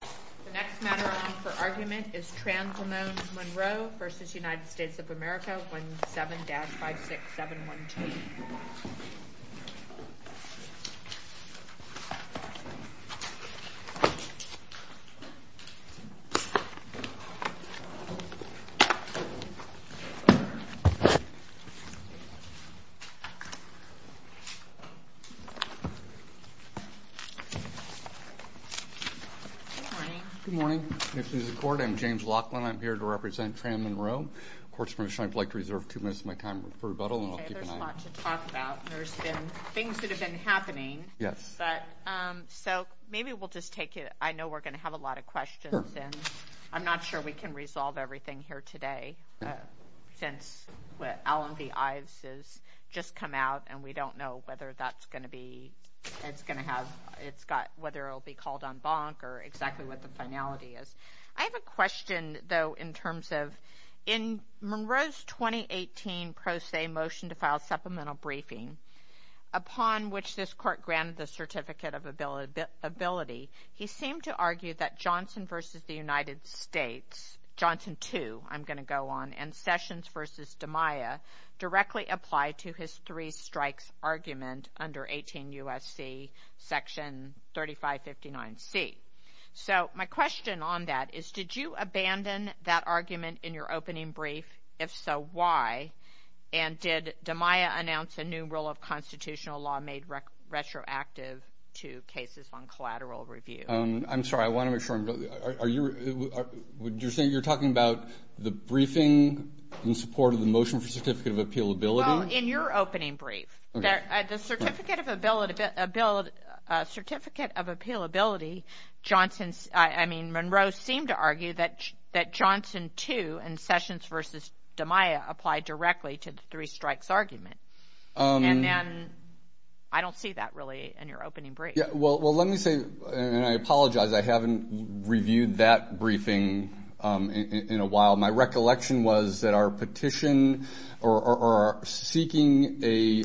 of America, 17-56712. Good morning. Good morning. This is the court. I'm James Laughlin. I'm here to represent Fran Monroe. Court's permission, I'd like to reserve two minutes of my time for rebuttal, and I'll keep an eye on it. Okay, there's a lot to talk about. There's been things that have been happening. Yes. But, so, maybe we'll just take it. I know we're going to have a lot of questions, and I'm not sure we can resolve everything here today since what Allen v. Ives has just come out, and we don't know whether that's what it's going to be. I'm not sure. Okay. All right. All right. All right. All right. I'm not sure what the finality is. I have a question, though, in terms of, in Monroe's 2018 pro se motion to file supplemental briefing, upon which this court granted the certificate of ability, he seemed to argue that Johnson v. the United States, Johnson 2, I'm going to go on, and Sessions v. DeMaia directly apply to his three strikes argument under 18 U.S.C. Section 3559C. So my question on that is, did you abandon that argument in your opening brief? If so, why? And did DeMaia announce a new rule of constitutional law made retroactive to cases on collateral review? I'm sorry. I want to make sure I'm, are you, you're saying, you're talking about the briefing in support of the motion for certificate of appealability? Well, in your opening brief. Okay. So the certificate of ability, certificate of appealability, Johnson's, I mean, Monroe seemed to argue that Johnson 2 and Sessions v. DeMaia apply directly to the three strikes argument. And then, I don't see that really in your opening brief. Yeah. Well, let me say, and I apologize, I haven't reviewed that briefing in a while. My recollection was that our petition, or our seeking a,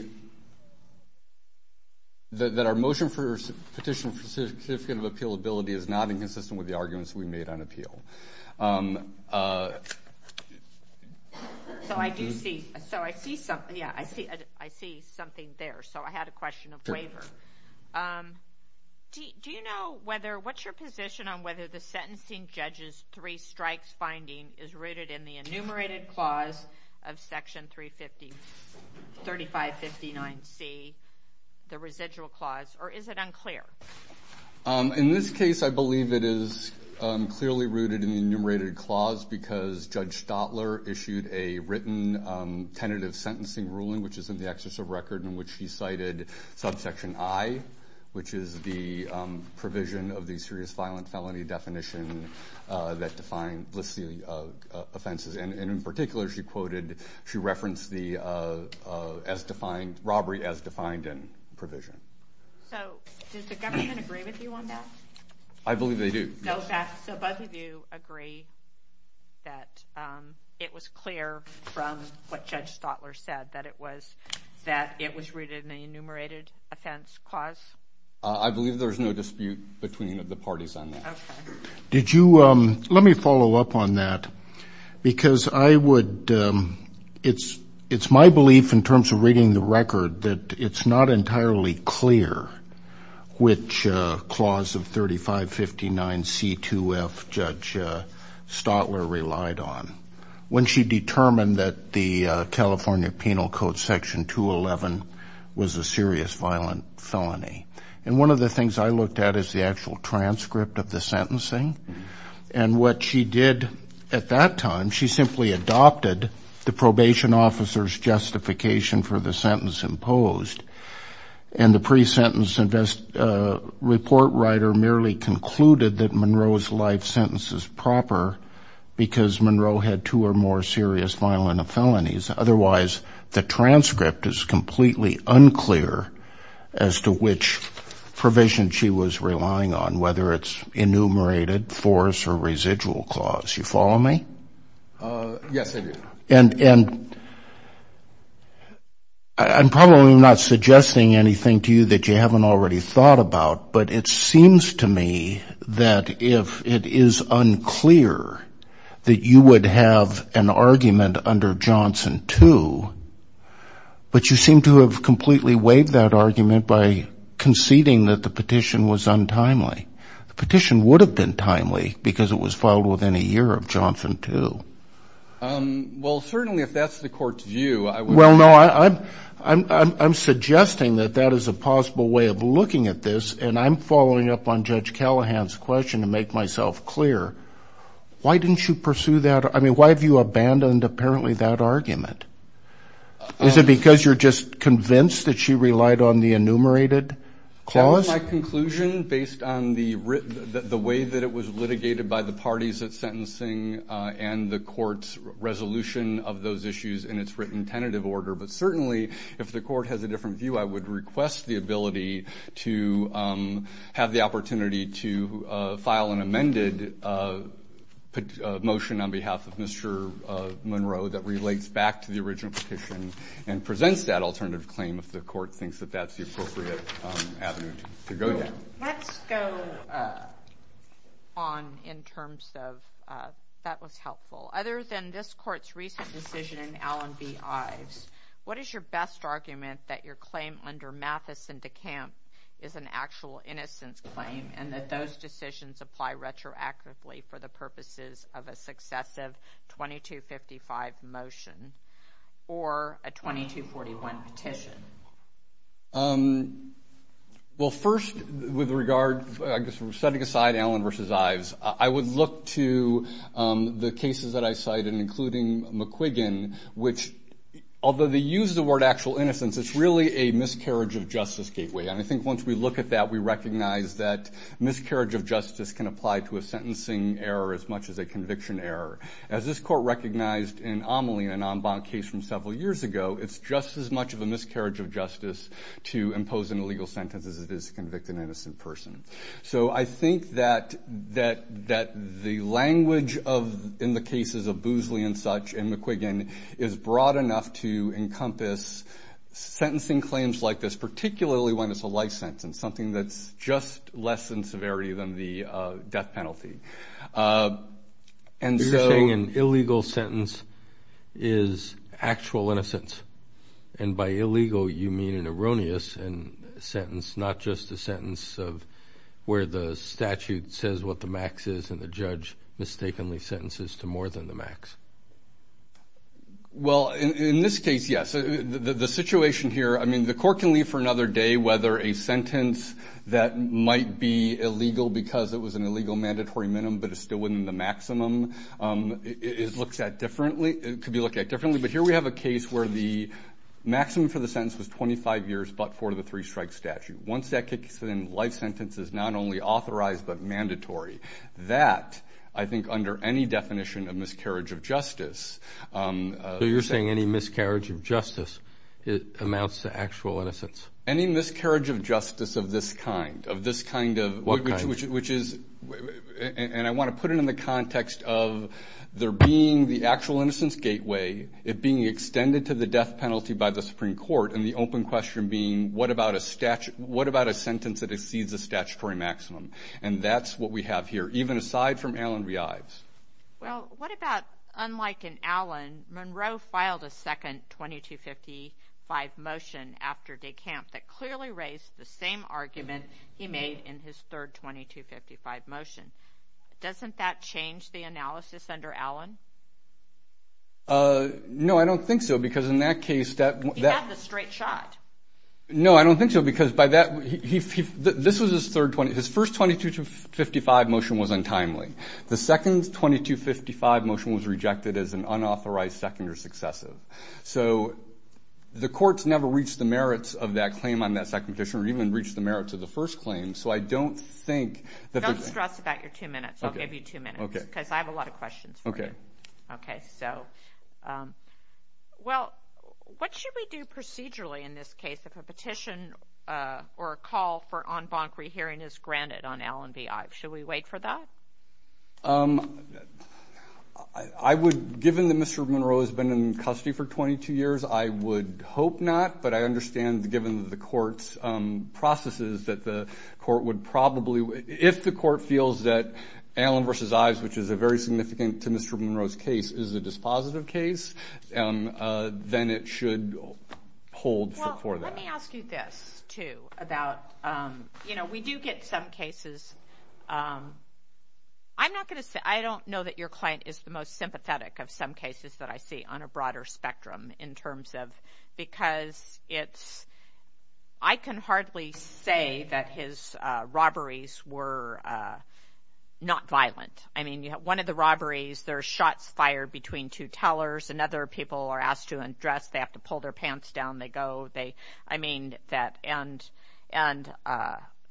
that our motion for petition for certificate of appealability is not inconsistent with the arguments we made on appeal. So I do see, so I see something, yeah, I see, I see something there. So I had a question of waiver. Do you know whether, what's your position on whether the sentencing judge's three strikes finding is rooted in the enumerated clause of section 350, 3559C, the residual clause, or is it unclear? In this case, I believe it is clearly rooted in the enumerated clause because Judge Stotler issued a written tentative sentencing ruling, which is in the exercise of record in which he cited subsection I, which is the provision of the serious violent felony definition that lists the offenses, and in particular, she quoted, she referenced the robbery as defined in provision. So does the government agree with you on that? I believe they do. So both of you agree that it was clear from what Judge Stotler said, that it was rooted in the enumerated offense clause? I believe there's no dispute between the parties on that. Did you, let me follow up on that because I would, it's my belief in terms of reading the record that it's not entirely clear which clause of 3559C2F Judge Stotler relied on when she determined that the California Penal Code section 211 was a serious violent felony. And one of the things I looked at is the actual transcript of the sentencing. And what she did at that time, she simply adopted the probation officer's justification for the sentence imposed. And the pre-sentence report writer merely concluded that Monroe's life sentence is proper because Monroe had two or more serious violent felonies. Otherwise, the transcript is completely unclear as to which provision she was relying on, whether it's enumerated, force, or residual clause. You follow me? Yes, I do. And I'm probably not suggesting anything to you that you haven't already thought about, but it seems to me that if it is unclear that you would have an argument under Johnson 2, but you seem to have completely waived that argument by conceding that the petition was untimely. The petition would have been timely because it was filed within a year of Johnson 2. Well, certainly, if that's the court's view, I would... Well, no, I'm suggesting that that is a possible way of looking at this, and I'm following up on Judge Callahan's question to make myself clear. Why didn't you pursue that? I mean, why have you abandoned, apparently, that argument? Is it because you're just convinced that she relied on the enumerated clause? That was my conclusion based on the way that it was litigated by the parties at sentencing and the court's resolution of those issues in its written tentative order. But certainly, if the court has a different view, I would request the ability to have the opportunity to file an amended motion on behalf of Mr. Monroe that relates back to the original petition and presents that alternative claim if the court thinks that that's the appropriate avenue to go down. Let's go on in terms of... That was helpful. Other than this court's recent decision in Allen v. Ives, what is your best argument that your claim under Mathis and DeCamp is an actual innocence claim and that those decisions apply retroactively for the purposes of a successive 2255 motion or a 2241 petition? Well, first, with regard, I guess, setting aside Allen v. Ives, I would look to the cases that I cited, including McQuiggin, which, although they use the word actual innocence, it's really a miscarriage of justice gateway, and I think once we look at that, we recognize that miscarriage of justice can apply to a sentencing error as much as a conviction error. As this court recognized in Amelie, an en banc case from several years ago, it's just as much of a miscarriage of justice to impose an illegal sentence as it is to convict an innocent person. So I think that the language in the cases of Boozley and such and McQuiggin is broad enough to encompass sentencing claims like this, particularly when it's a life sentence, something that's just less in severity than the death penalty. You're saying an illegal sentence is actual innocence, and by illegal, you mean an erroneous sentence, not just a sentence of where the statute says what the max is and the judge mistakenly sentences to more than the max. Well, in this case, yes. The situation here, I mean, the court can leave for another day whether a sentence that was an illegal mandatory minimum, but it's still within the maximum, it could be looked at differently. But here we have a case where the maximum for the sentence was 25 years, but for the three-strike statute. Once that kicks in, life sentence is not only authorized, but mandatory. That, I think, under any definition of miscarriage of justice- So you're saying any miscarriage of justice amounts to actual innocence. Any miscarriage of justice of this kind, of this kind of- What kind? Which is, and I want to put it in the context of there being the actual innocence gateway, it being extended to the death penalty by the Supreme Court, and the open question being, what about a sentence that exceeds the statutory maximum? And that's what we have here, even aside from Alan Reibs. Well, what about, unlike in Alan, Monroe filed a second 2255 motion after DeCamp that clearly raised the same argument he made in his third 2255 motion. Doesn't that change the analysis under Alan? No, I don't think so, because in that case- He had the straight shot. No, I don't think so, because by that, this was his third, his first 2255 motion was untimely. The second 2255 motion was rejected as an unauthorized second or successive. So the courts never reached the merits of that claim on that second petition, or even reached the merits of the first claim, so I don't think that- Don't stress about your two minutes, I'll give you two minutes, because I have a lot of questions for you. Okay. Okay, so. Well, what should we do procedurally in this case if a petition or a call for en banc rehearing is granted on Alan B. Ives? Should we wait for that? I would, given that Mr. Monroe has been in custody for 22 years, I would hope not, but I understand, given the court's processes, that the court would probably, if the court feels that Alan v. Ives, which is a very significant to Mr. Monroe's case, is a dispositive case, then it should hold for that. Let me ask you this, too, about, you know, we do get some cases, I'm not going to say, I don't know that your client is the most sympathetic of some cases that I see on a broader spectrum, in terms of, because it's, I can hardly say that his robberies were not violent. I mean, one of the robberies, there's shots fired between two tellers, and other people are asked to undress, they have to pull their pants down, they go, they, I mean, that, and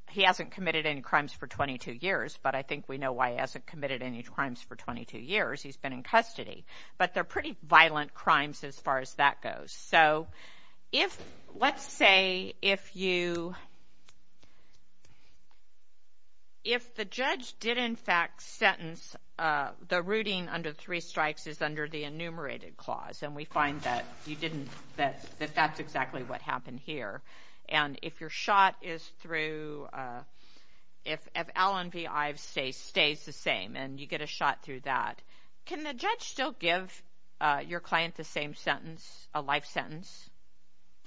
he hasn't committed any crimes for 22 years, but I think we know why he hasn't committed any crimes for 22 years, he's been in custody, but they're pretty violent crimes as far as that goes. So, if, let's say, if you, if the judge did, in fact, sentence, the rooting under the three clause, and we find that you didn't, that that's exactly what happened here, and if your shot is through, if Allen v. Ives stays the same, and you get a shot through that, can the judge still give your client the same sentence, a life sentence?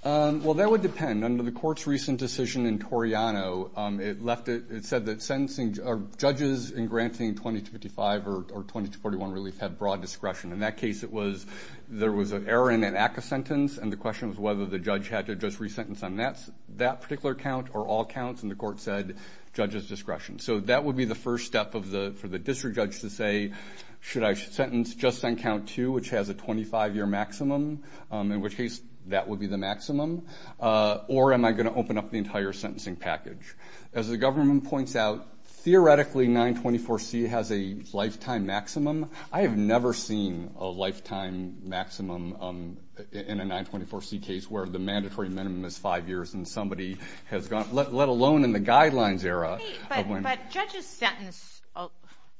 Well, that would depend. Under the court's recent decision in Toriano, it left it, it said that sentencing, judges in granting 2255 or 2241 relief have broad discretion. In that case, it was, there was an error in an ACCA sentence, and the question was whether the judge had to just resentence on that particular count, or all counts, and the court said, judges discretion. So, that would be the first step of the, for the district judge to say, should I sentence just on count two, which has a 25 year maximum, in which case, that would be the maximum, or am I going to open up the entire sentencing package? As the government points out, theoretically, 924C has a lifetime maximum. I have never seen a lifetime maximum in a 924C case, where the mandatory minimum is five years, and somebody has gone, let alone in the guidelines era, of when. But judges sentence,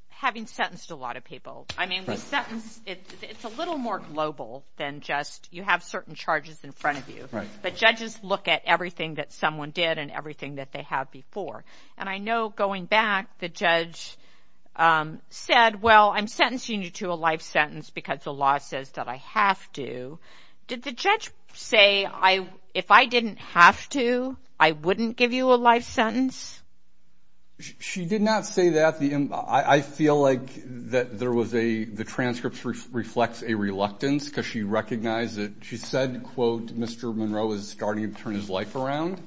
having sentenced a lot of people, I mean, we sentence, it's a little more global than just, you have certain charges in front of you, but judges look at everything that someone did, and everything that they have before. And I know, going back, the judge said, well, I'm sentencing you to a life sentence, because the law says that I have to. Did the judge say, if I didn't have to, I wouldn't give you a life sentence? She did not say that. I feel like that there was a, the transcript reflects a reluctance, because she recognized that, she said, quote, Mr. Monroe is starting to turn his life around,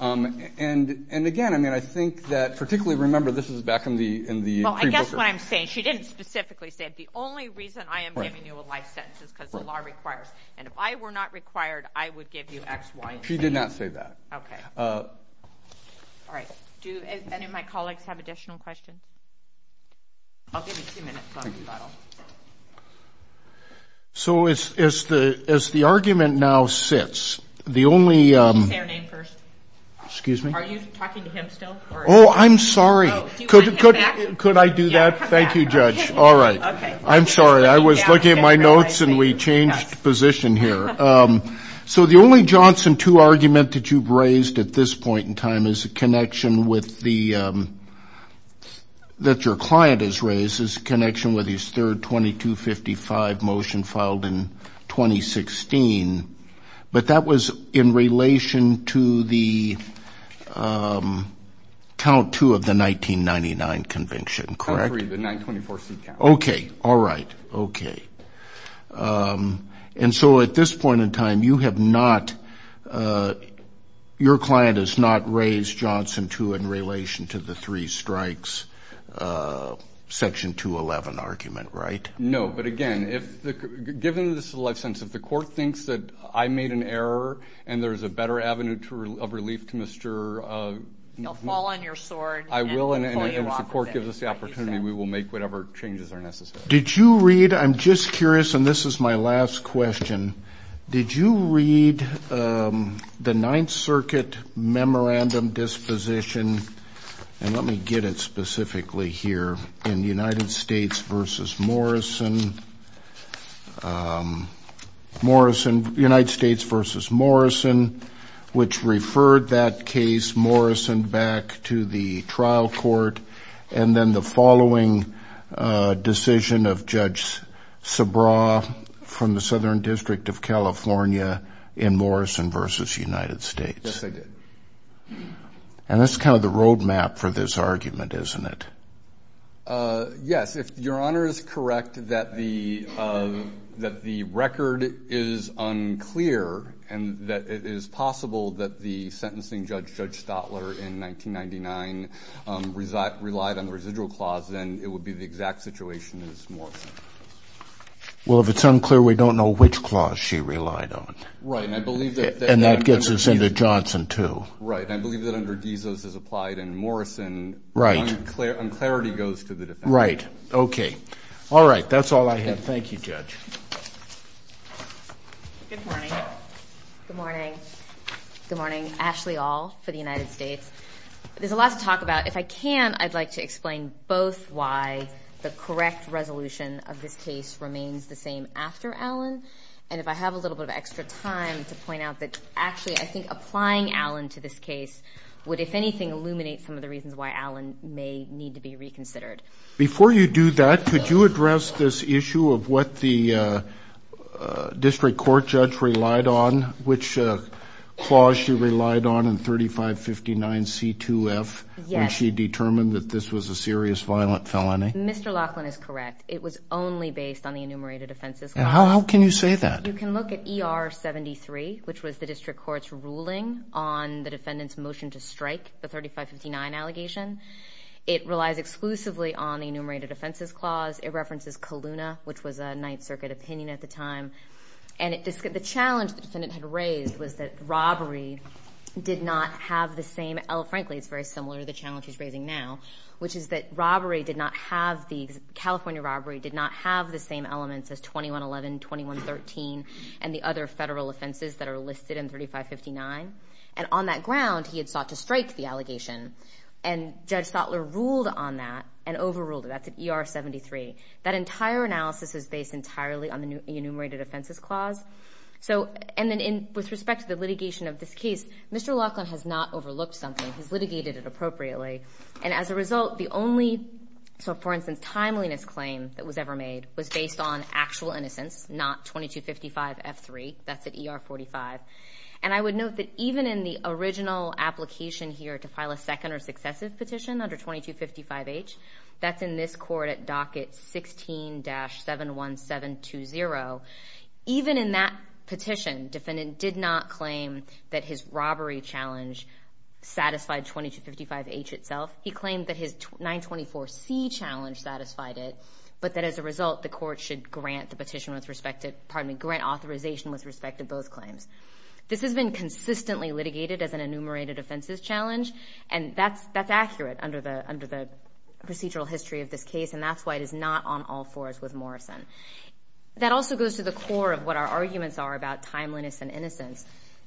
and again, I mean, I think that, particularly, remember, this is back in the pre-booker. Well, I guess what I'm saying, she didn't specifically say, the only reason I am giving you a life sentence is because the law requires, and if I were not required, I would give you X, Y, and Z. She did not say that. Okay. All right. Do any of my colleagues have additional questions? I'll give you two minutes on rebuttal. So as the argument now sits, the only- Can you say her name first? Excuse me? Are you talking to him still, or- Oh, I'm sorry. Oh, do you want him back? Could I do that? Thank you, judge. All right. Okay. I'm sorry. I was looking at my notes, and we changed position here. So the only Johnson 2 argument that you've raised at this point in time is a connection with the, that your client has raised, is a connection with his third 2255 motion filed in 2016. But that was in relation to the count 2 of the 1999 convention, correct? Count 3, the 924C count. Okay. All right. Okay. And so at this point in time, you have not, your client has not raised Johnson 2 in relation to the three strikes, section 211 argument, right? No. No, but again, if the, given this license, if the court thinks that I made an error, and there's a better avenue to, of relief to Mr.- He'll fall on your sword. I will, and if the court gives us the opportunity, we will make whatever changes are necessary. Did you read, I'm just curious, and this is my last question. Did you read the 9th Circuit Memorandum Disposition, and let me get it specifically here, in United States v. Morrison, Morrison, United States v. Morrison, which referred that case, Morrison, back to the trial court, and then the following decision of Judge Sabraw, from the Southern District of California, in Morrison v. United States? Yes, I did. And that's kind of the roadmap for this argument, isn't it? Yes, if Your Honor is correct that the record is unclear, and that it is possible that the sentencing judge, Judge Stotler, in 1999, relied on the residual clause, then it would be the exact situation as Morrison. Well, if it's unclear, we don't know which clause she relied on. Right, and I believe that- And that gets us into Johnson 2. Right, and I believe that under Dizos, as applied in Morrison- Right. Unclarity goes to the defendant. Right. Okay. All right. That's all I have. Thank you, Judge. Good morning. Good morning. Good morning. Ashley All, for the United States. There's a lot to talk about. If I can, I'd like to explain both why the correct resolution of this case remains the same after Allen, and if I have a little bit of extra time to point out that actually, I think applying Allen to this case would, if anything, illuminate some of the reasons why Allen may need to be reconsidered. Before you do that, could you address this issue of what the district court judge relied on, which clause she relied on in 3559 C2F when she determined that this was a serious violent felony? Yes. Mr. Laughlin is correct. It was only based on the enumerated offenses clause. How can you say that? You can look at ER 73, which was the district court's ruling on the defendant's motion to It relies exclusively on the enumerated offenses clause. It references KALUNA, which was a Ninth Circuit opinion at the time. And the challenge the defendant had raised was that robbery did not have the same, frankly, it's very similar to the challenge he's raising now, which is that robbery did not have, the California robbery did not have the same elements as 2111, 2113, and the other federal offenses that are listed in 3559. On that ground, he had sought to strike the allegation, and Judge Stotler ruled on that and overruled it. That's at ER 73. That entire analysis is based entirely on the enumerated offenses clause. With respect to the litigation of this case, Mr. Laughlin has not overlooked something. He's litigated it appropriately. As a result, the only, for instance, timeliness claim that was ever made was based on actual innocence, not 2255 F3. That's at ER 45. And I would note that even in the original application here to file a second or successive petition under 2255H, that's in this court at docket 16-71720. Even in that petition, defendant did not claim that his robbery challenge satisfied 2255H itself. He claimed that his 924C challenge satisfied it, but that as a result, the court should grant authorization with respect to both claims. This has been consistently litigated as an enumerated offenses challenge, and that's accurate under the procedural history of this case, and that's why it is not on all fours with Morrison. That also goes to the core of what our arguments are about timeliness and innocence.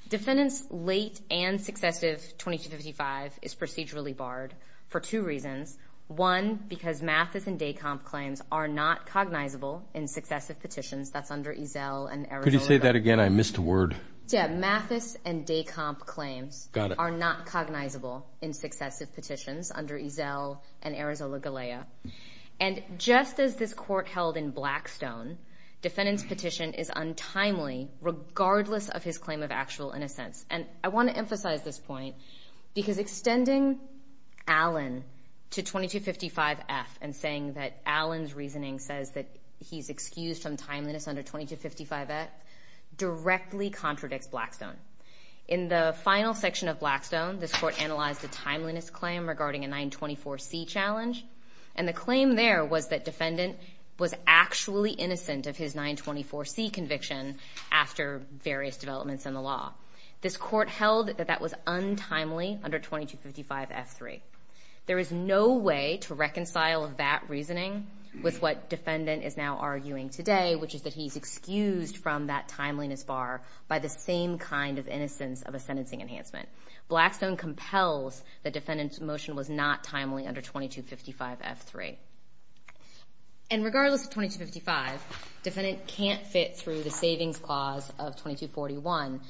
Defendant's late and successive 2255 is procedurally barred for two reasons. One, because Mathis and Decomp claims are not cognizable in successive petitions. That's under Ezel and Arizona Galea. Could you say that again? I missed a word. Yeah. Mathis and Decomp claims are not cognizable in successive petitions under Ezel and Arizona Galea. And just as this court held in Blackstone, defendant's petition is untimely regardless of his claim of actual innocence. And I want to emphasize this point, because extending Allen to 2255F and saying that Allen's reasoning says that he's excused from timeliness under 2255F directly contradicts Blackstone. In the final section of Blackstone, this court analyzed a timeliness claim regarding a 924C challenge, and the claim there was that defendant was actually innocent of his 924C conviction after various developments in the law. This court held that that was untimely under 2255F3. There is no way to reconcile that reasoning with what defendant is now arguing today, which is that he's excused from that timeliness bar by the same kind of innocence of a sentencing enhancement. Blackstone compels that defendant's motion was not timely under 2255F3. And regardless of 2255, defendant can't fit through the Savings Clause of 2241,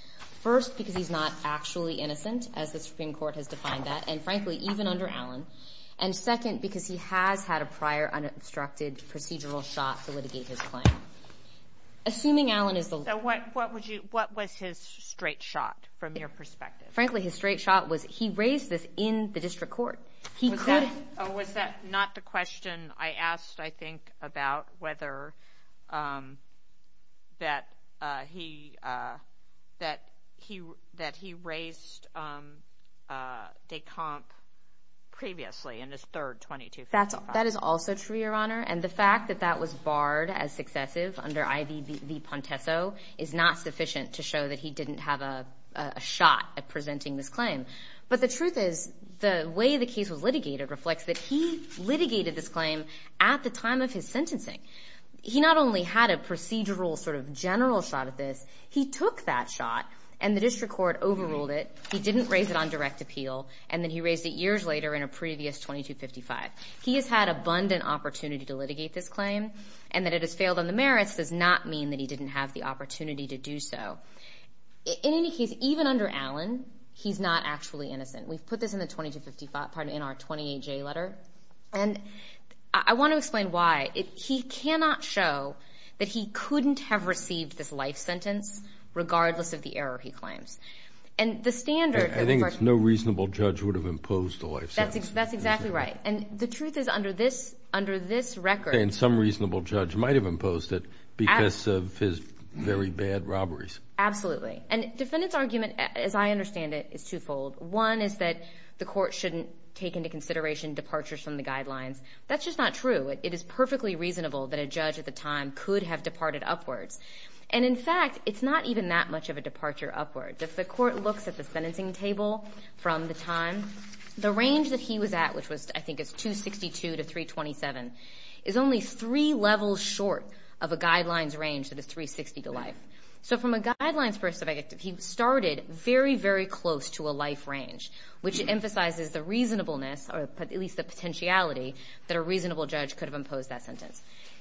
first because he's not actually innocent, as the Supreme Court has defined that, and frankly, even under Allen, and second, because he has had a prior unobstructed procedural shot to litigate his claim. Assuming Allen is the law... So what was his straight shot from your perspective? Frankly, his straight shot was he raised this in the district court. He could... Oh, was that not the question I asked, I think, about whether that he raised de comp previously in his third 2255? That is also true, Your Honor. And the fact that that was barred as successive under IV-V-Pontesso is not sufficient to show him. But the truth is, the way the case was litigated reflects that he litigated this claim at the time of his sentencing. He not only had a procedural sort of general shot at this, he took that shot, and the district court overruled it, he didn't raise it on direct appeal, and then he raised it years later in a previous 2255. He has had abundant opportunity to litigate this claim, and that it has failed on the merits does not mean that he didn't have the opportunity to do so. In any case, even under Allen, he's not actually innocent. We've put this in the 2255, pardon me, in our 28J letter, and I want to explain why. He cannot show that he couldn't have received this life sentence regardless of the error he claims. And the standard... I think it's no reasonable judge would have imposed the life sentence. That's exactly right. And the truth is, under this record... I understand some reasonable judge might have imposed it because of his very bad robberies. Absolutely. And defendant's argument, as I understand it, is twofold. One is that the court shouldn't take into consideration departures from the guidelines. That's just not true. It is perfectly reasonable that a judge at the time could have departed upwards. And in fact, it's not even that much of a departure upwards. If the court looks at the sentencing table from the time, the range that he was at, which I think is 262 to 327, is only three levels short of a guidelines range that is 360 to life. So from a guidelines perspective, he started very, very close to a life range, which emphasizes the reasonableness, or at least the potentiality, that a reasonable judge could have imposed that sentence.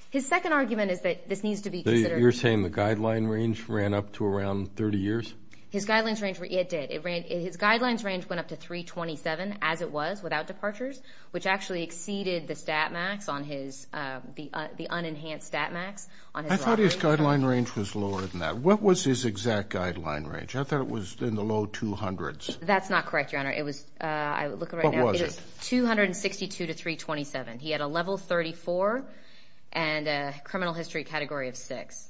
His second argument is that this needs to be considered... You're saying the guideline range ran up to around 30 years? His guidelines range... It did. His guidelines range went up to 327, as it was, without departures, which actually exceeded the stat max on his... The unenhanced stat max on his robbery. I thought his guideline range was lower than that. What was his exact guideline range? I thought it was in the low 200s. That's not correct, Your Honor. It was... I look at it right now. What was it? It was 262 to 327. He had a level 34 and a criminal history category of 6.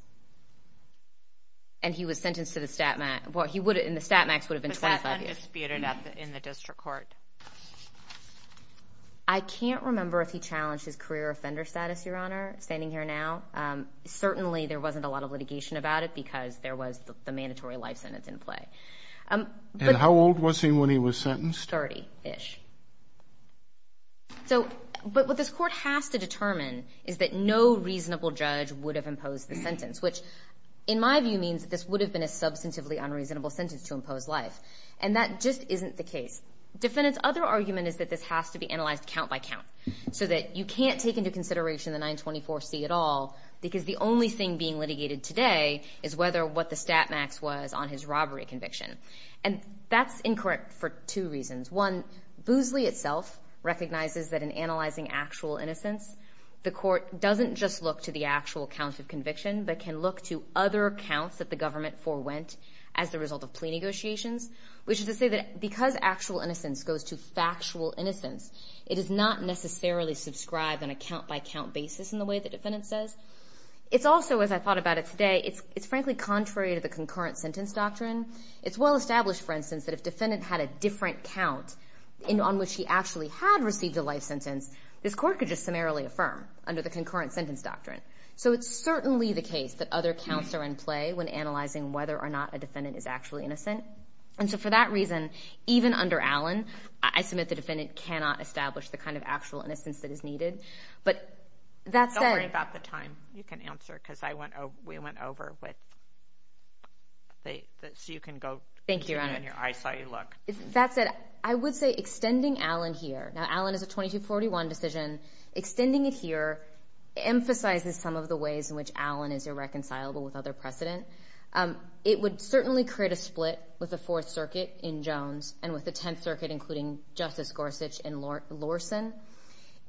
And he was sentenced to the stat max... And the stat max would have been 25 years. But that's undisputed in the district court. I can't remember if he challenged his career offender status, Your Honor, standing here now. Certainly, there wasn't a lot of litigation about it, because there was the mandatory life sentence in play. How old was he when he was sentenced? 30-ish. But what this court has to determine is that no reasonable judge would have imposed the reasonable sentence to impose life. And that just isn't the case. Defendant's other argument is that this has to be analyzed count by count, so that you can't take into consideration the 924C at all, because the only thing being litigated today is whether what the stat max was on his robbery conviction. And that's incorrect for two reasons. One, Boosley itself recognizes that in analyzing actual innocence, the court doesn't just look to the actual count of conviction, but can look to other counts that the government forewent as the result of plea negotiations, which is to say that because actual innocence goes to factual innocence, it does not necessarily subscribe on a count by count basis in the way the defendant says. It's also, as I thought about it today, it's frankly contrary to the concurrent sentence doctrine. It's well established, for instance, that if defendant had a different count on which he actually had received a life sentence, this court could just summarily affirm under the concurrent sentence doctrine. So it's certainly the case that other counts are in play when analyzing whether or not a defendant is actually innocent. And so for that reason, even under Allen, I submit the defendant cannot establish the kind of actual innocence that is needed. But that said— Don't worry about the time. You can answer, because I went over—we went over with—so you can go— Thank you, Your Honor. I saw you look. That said, I would say extending Allen here—now, Allen is a 2241 decision. Extending it here emphasizes some of the ways in which Allen is irreconcilable with other precedent. It would certainly create a split with the Fourth Circuit in Jones and with the Tenth Circuit, including Justice Gorsuch and Lorson.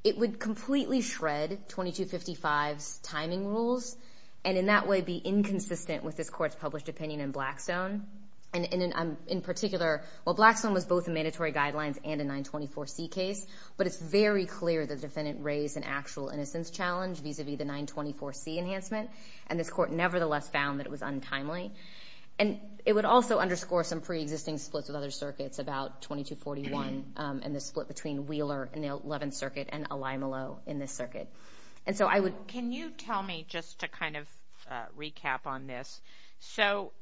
It would completely shred 2255's timing rules and in that way be inconsistent with this court's published opinion in Blackstone. In particular, while Blackstone was both a mandatory guidelines and a 924C case, but it's very clear the defendant raised an actual innocence challenge vis-a-vis the 924C enhancement, and this court nevertheless found that it was untimely. And it would also underscore some preexisting splits with other circuits about 2241 and the split between Wheeler in the Eleventh Circuit and Alimalo in this circuit. And so I would— Can you tell me, just to kind of recap on this, so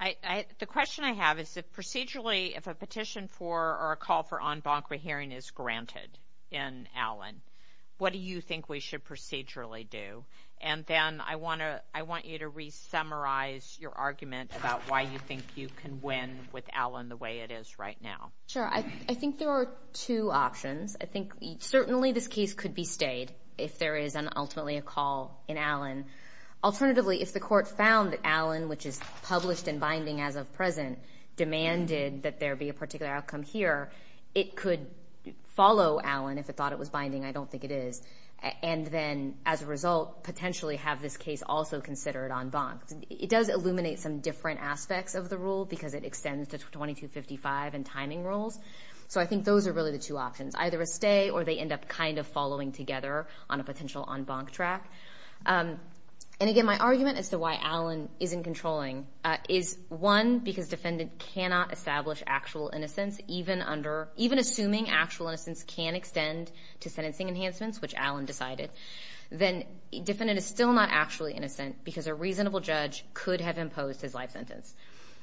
the question I have is that procedurally if a petition for or a call for en banc rehearing is granted in Allen, what do you think we should procedurally do? And then I want you to re-summarize your argument about why you think you can win with Allen the way it is right now. Sure. I think there are two options. I think certainly this case could be stayed if there is ultimately a call in Allen. Alternatively, if the court found that Allen, which is published and binding as of present, demanded that there be a particular outcome here, it could follow Allen if it thought it was binding. I don't think it is. And then as a result, potentially have this case also considered en banc. It does illuminate some different aspects of the rule because it extends to 2255 and timing rules. So I think those are really the two options, either a stay or they end up kind of following together on a potential en banc track. And again, my argument as to why Allen isn't controlling is one, because defendant cannot establish actual innocence even under, even assuming actual innocence can extend to sentencing enhancements, which Allen decided, then defendant is still not actually innocent because a reasonable judge could have imposed his life sentence.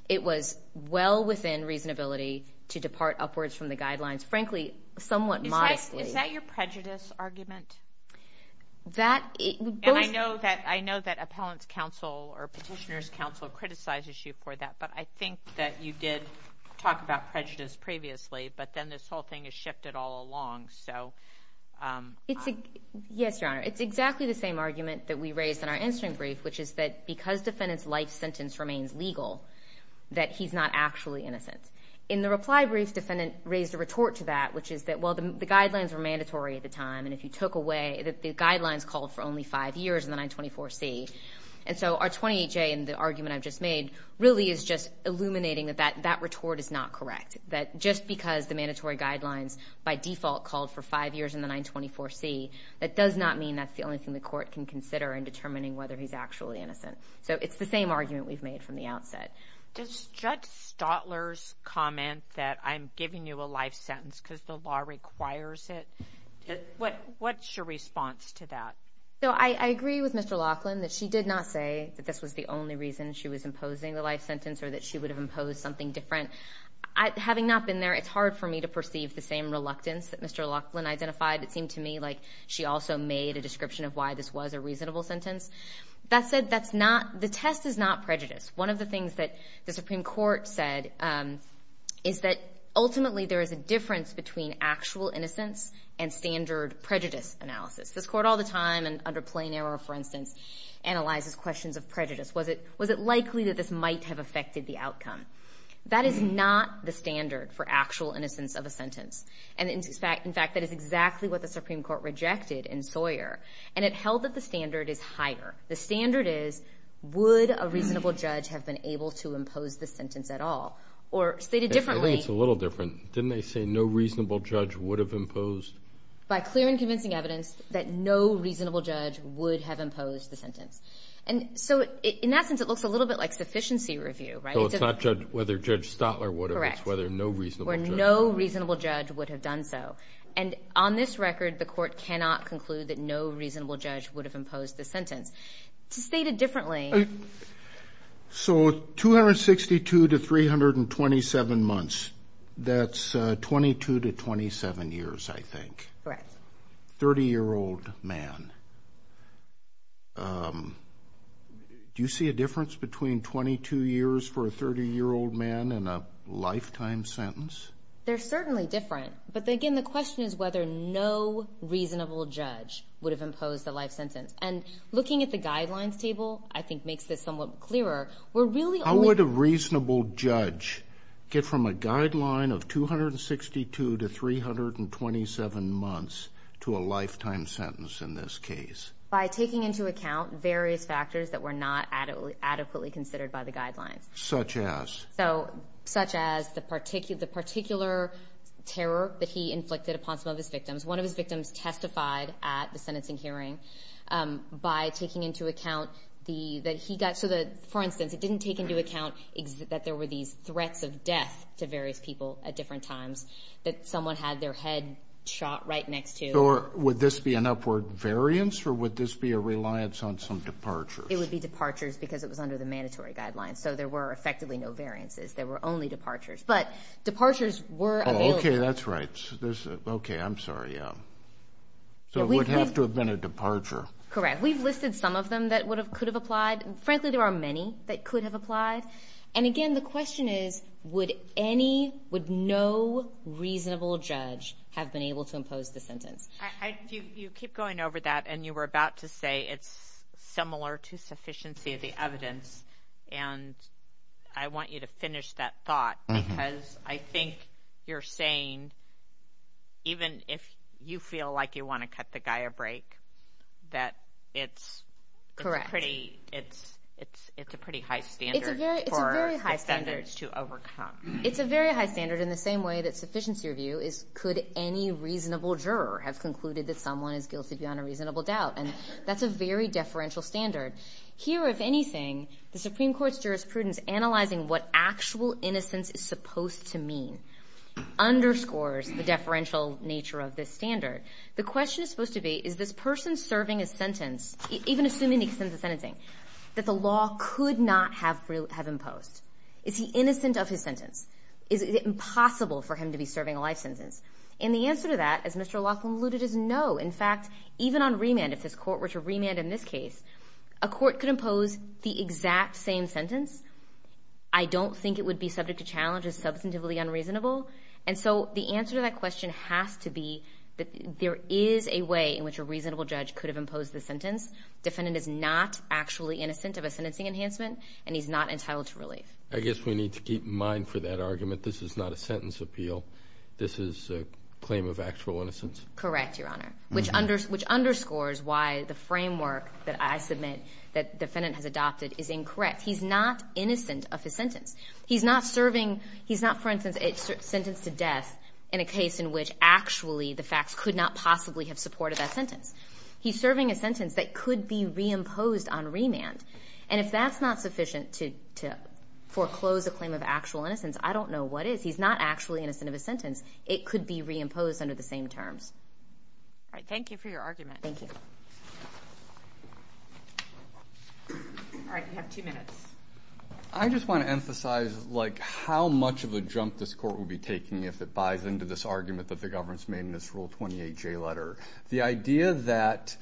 It was well within reasonability to depart upwards from the guidelines, frankly, somewhat modestly. Is that your prejudice argument? That... And I know that appellant's counsel or petitioner's counsel criticizes you for that, but I think that you did talk about prejudice previously, but then this whole thing is shifted all along, so... It's a... Yes, Your Honor. It's exactly the same argument that we raised in our answering brief, which is that because defendant's life sentence remains legal, that he's not actually innocent. In the reply brief, defendant raised a retort to that, which is that, well, the guidelines were mandatory at the time, and if you took away... The guidelines called for only five years in the 924C, and so our 28J and the argument I've just made really is just illuminating that that retort is not correct, that just because the mandatory guidelines by default called for five years in the 924C, that does not mean that's the only thing the court can consider in determining whether he's actually innocent. So it's the same argument we've made from the outset. Does Judge Stotler's comment that I'm giving you a life sentence because the law requires it, what's your response to that? So I agree with Mr. Laughlin that she did not say that this was the only reason she was imposing the life sentence or that she would have imposed something different. Having not been there, it's hard for me to perceive the same reluctance that Mr. Laughlin identified. It seemed to me like she also made a description of why this was a reasonable sentence. That said, that's not... The test is not prejudice. One of the things that the Supreme Court said is that ultimately there is a difference between actual innocence and standard prejudice analysis. This court all the time and under plain error, for instance, analyzes questions of prejudice. Was it likely that this might have affected the outcome? That is not the standard for actual innocence of a sentence. And in fact, that is exactly what the Supreme Court rejected in Sawyer. And it held that the standard is higher. The standard is, would a reasonable judge have been able to impose the sentence at all? Or stated differently... I think it's a little different. Didn't they say no reasonable judge would have imposed? By clear and convincing evidence that no reasonable judge would have imposed the sentence. And so, in that sense, it looks a little bit like sufficiency review, right? So it's not whether Judge Stotler would have, it's whether no reasonable judge... Correct. Where no reasonable judge would have done so. And on this record, the court cannot conclude that no reasonable judge would have imposed the sentence. To state it differently... So, 262 to 327 months, that's 22 to 27 years, I think. Correct. 30-year-old man. Do you see a difference between 22 years for a 30-year-old man and a lifetime sentence? They're certainly different. But again, the question is whether no reasonable judge would have imposed the life sentence. And looking at the guidelines table, I think makes this somewhat clearer. We're really only... How would a reasonable judge get from a guideline of 262 to 327 months to a lifetime sentence in this case? By taking into account various factors that were not adequately considered by the guidelines. Such as? So, such as the particular terror that he inflicted upon some of his victims. One of his victims testified at the sentencing hearing by taking into account that he got... For instance, it didn't take into account that there were these threats of death to various people at different times, that someone had their head shot right next to... Would this be an upward variance, or would this be a reliance on some departures? It would be departures because it was under the mandatory guidelines, so there were effectively no variances. There were only departures. But departures were available. Oh, okay. That's right. There's... Okay, I'm sorry. Yeah. So, it would have to have been a departure. Correct. We've listed some of them that could have applied, and frankly, there are many that could have applied. And again, the question is, would any, would no reasonable judge have been able to impose the sentence? You keep going over that, and you were about to say it's similar to sufficiency of the evidence. And I want you to finish that thought, because I think you're saying, even if you feel like you want to cut the guy a break, that it's a pretty high standard for defendants to overcome. It's a very high standard, in the same way that sufficiency review is, could any reasonable juror have concluded that someone is guilty beyond a reasonable doubt? And that's a very deferential standard. Here, if anything, the Supreme Court's jurisprudence, analyzing what actual innocence is supposed to mean, underscores the deferential nature of this standard. The question is supposed to be, is this person serving a sentence, even assuming the extent of sentencing, that the law could not have imposed? Is he innocent of his sentence? Is it impossible for him to be serving a life sentence? And the answer to that, as Mr. Laughlin alluded, is no. In fact, even on remand, if this court were to remand in this case, a court could impose the exact same sentence. I don't think it would be subject to challenge as substantively unreasonable. And so the answer to that question has to be that there is a way in which a reasonable judge could have imposed the sentence. Defendant is not actually innocent of a sentencing enhancement, and he's not entitled to relief. I guess we need to keep in mind for that argument, this is not a sentence appeal. This is a claim of actual innocence. Correct, Your Honor. Which underscores why the framework that I submit that defendant has adopted is incorrect. He's not innocent of his sentence. He's not serving, he's not, for instance, sentenced to death in a case in which actually the facts could not possibly have supported that sentence. He's serving a sentence that could be reimposed on remand. And if that's not sufficient to foreclose a claim of actual innocence, I don't know what is. He's not actually innocent of his sentence. It could be reimposed under the same terms. All right, thank you for your argument. Thank you. All right, you have two minutes. I just want to emphasize how much of a jump this court will be taking if it buys into this argument that the government's made in this Rule 28J letter. The idea that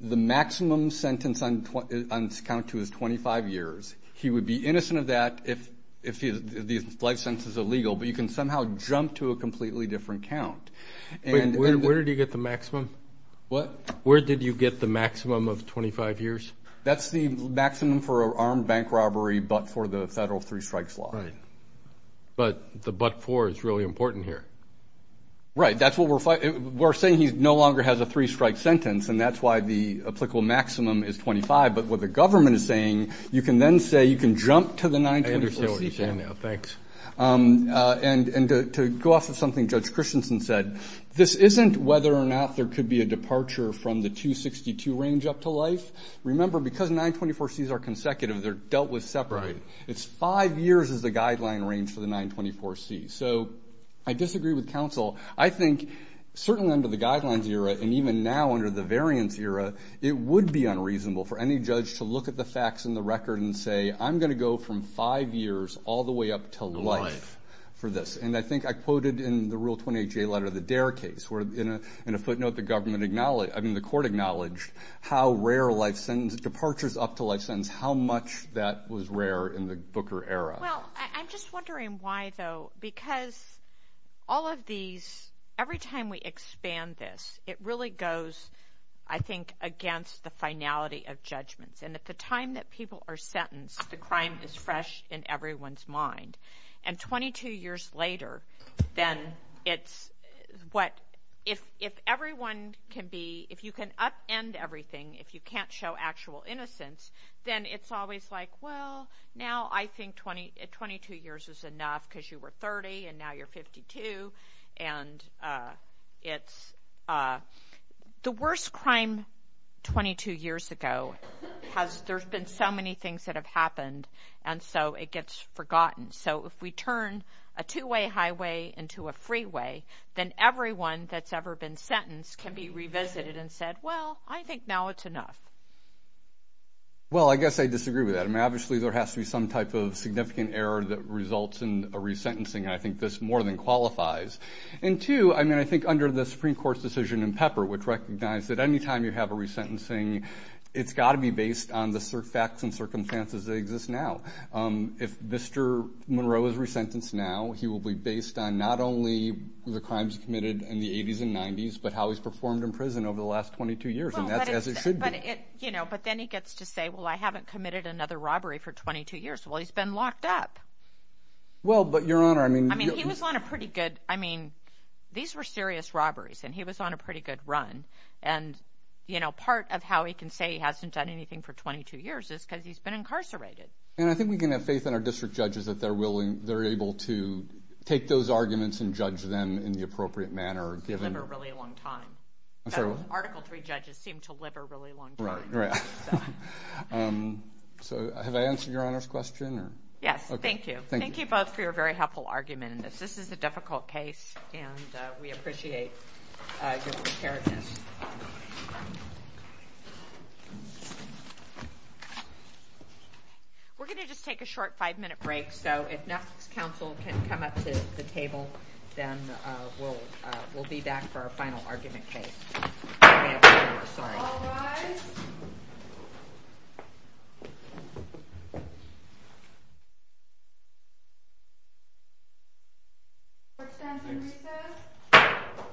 the maximum sentence on count to is 25 years. He would be innocent of that if the life sentence is illegal, but you can somehow jump to a completely different count. Where did you get the maximum? What? Where did you get the maximum of 25 years? That's the maximum for an armed bank robbery, but for the federal three strikes law. But the but for is really important here. Right. That's what we're saying. We're saying he no longer has a three strike sentence, and that's why the applicable maximum is 25. But what the government is saying, you can then say, you can jump to the 924C count. I understand what you're saying now, thanks. And to go off of something Judge Christensen said, this isn't whether or not there could be a departure from the 262 range up to life. Remember, because 924Cs are consecutive, they're dealt with separately. It's five years as the guideline range for the 924Cs. So I disagree with counsel. I think certainly under the guidelines era, and even now under the variance era, it would be unreasonable for any judge to look at the facts and the record and say, I'm going to go from five years all the way up to life for this. And I think I quoted in the Rule 28J letter, the Dare case, where in a footnote, the government acknowledged, I mean, the court acknowledged how rare a life sentence, departures up to life sentence, how much that was rare in the Booker era. Well, I'm just wondering why, though, because all of these, every time we expand this, it really goes, I think, against the finality of judgments. And at the time that people are sentenced, the crime is fresh in everyone's mind. And 22 years later, then it's what, if everyone can be, if you can upend everything, if you can't show actual innocence, then it's always like, well, now I think 22 years is enough because you were 30, and now you're 52. And it's, the worst crime 22 years ago has, there's been so many things that have happened, and so it gets forgotten. So if we turn a two-way highway into a freeway, then everyone that's ever been sentenced can be revisited and said, well, I think now it's enough. Well, I guess I disagree with that. I mean, obviously, there has to be some type of significant error that results in a resentencing. And I think this more than qualifies. And two, I mean, I think under the Supreme Court's decision in Pepper, which recognized that any time you have a resentencing, it's got to be based on the facts and circumstances that exist now. If Mr. Monroe is resentenced now, he will be based on not only the crimes committed in the 80s and 90s, but how he's performed in prison over the last 22 years. And that's as it should be. But it, you know, but then he gets to say, well, I haven't committed another robbery for 22 years. Well, he's been locked up. Well, but, Your Honor, I mean. I mean, he was on a pretty good, I mean, these were serious robberies, and he was on a pretty good run. And, you know, part of how he can say he hasn't done anything for 22 years is because he's been incarcerated. And I think we can have faith in our district judges that they're willing, they're able to take those arguments and judge them in the appropriate manner, given. Live a really long time. I'm sorry, what? Article III judges seem to live a really long time. Right, right. So, have I answered Your Honor's question, or? Yes, thank you. Thank you both for your very helpful argument in this. This is a difficult case, and we appreciate your preparedness. We're going to just take a short five-minute break, so if next counsel can come up to the table, then we'll be back for our final argument case. All rise. Court is at recess.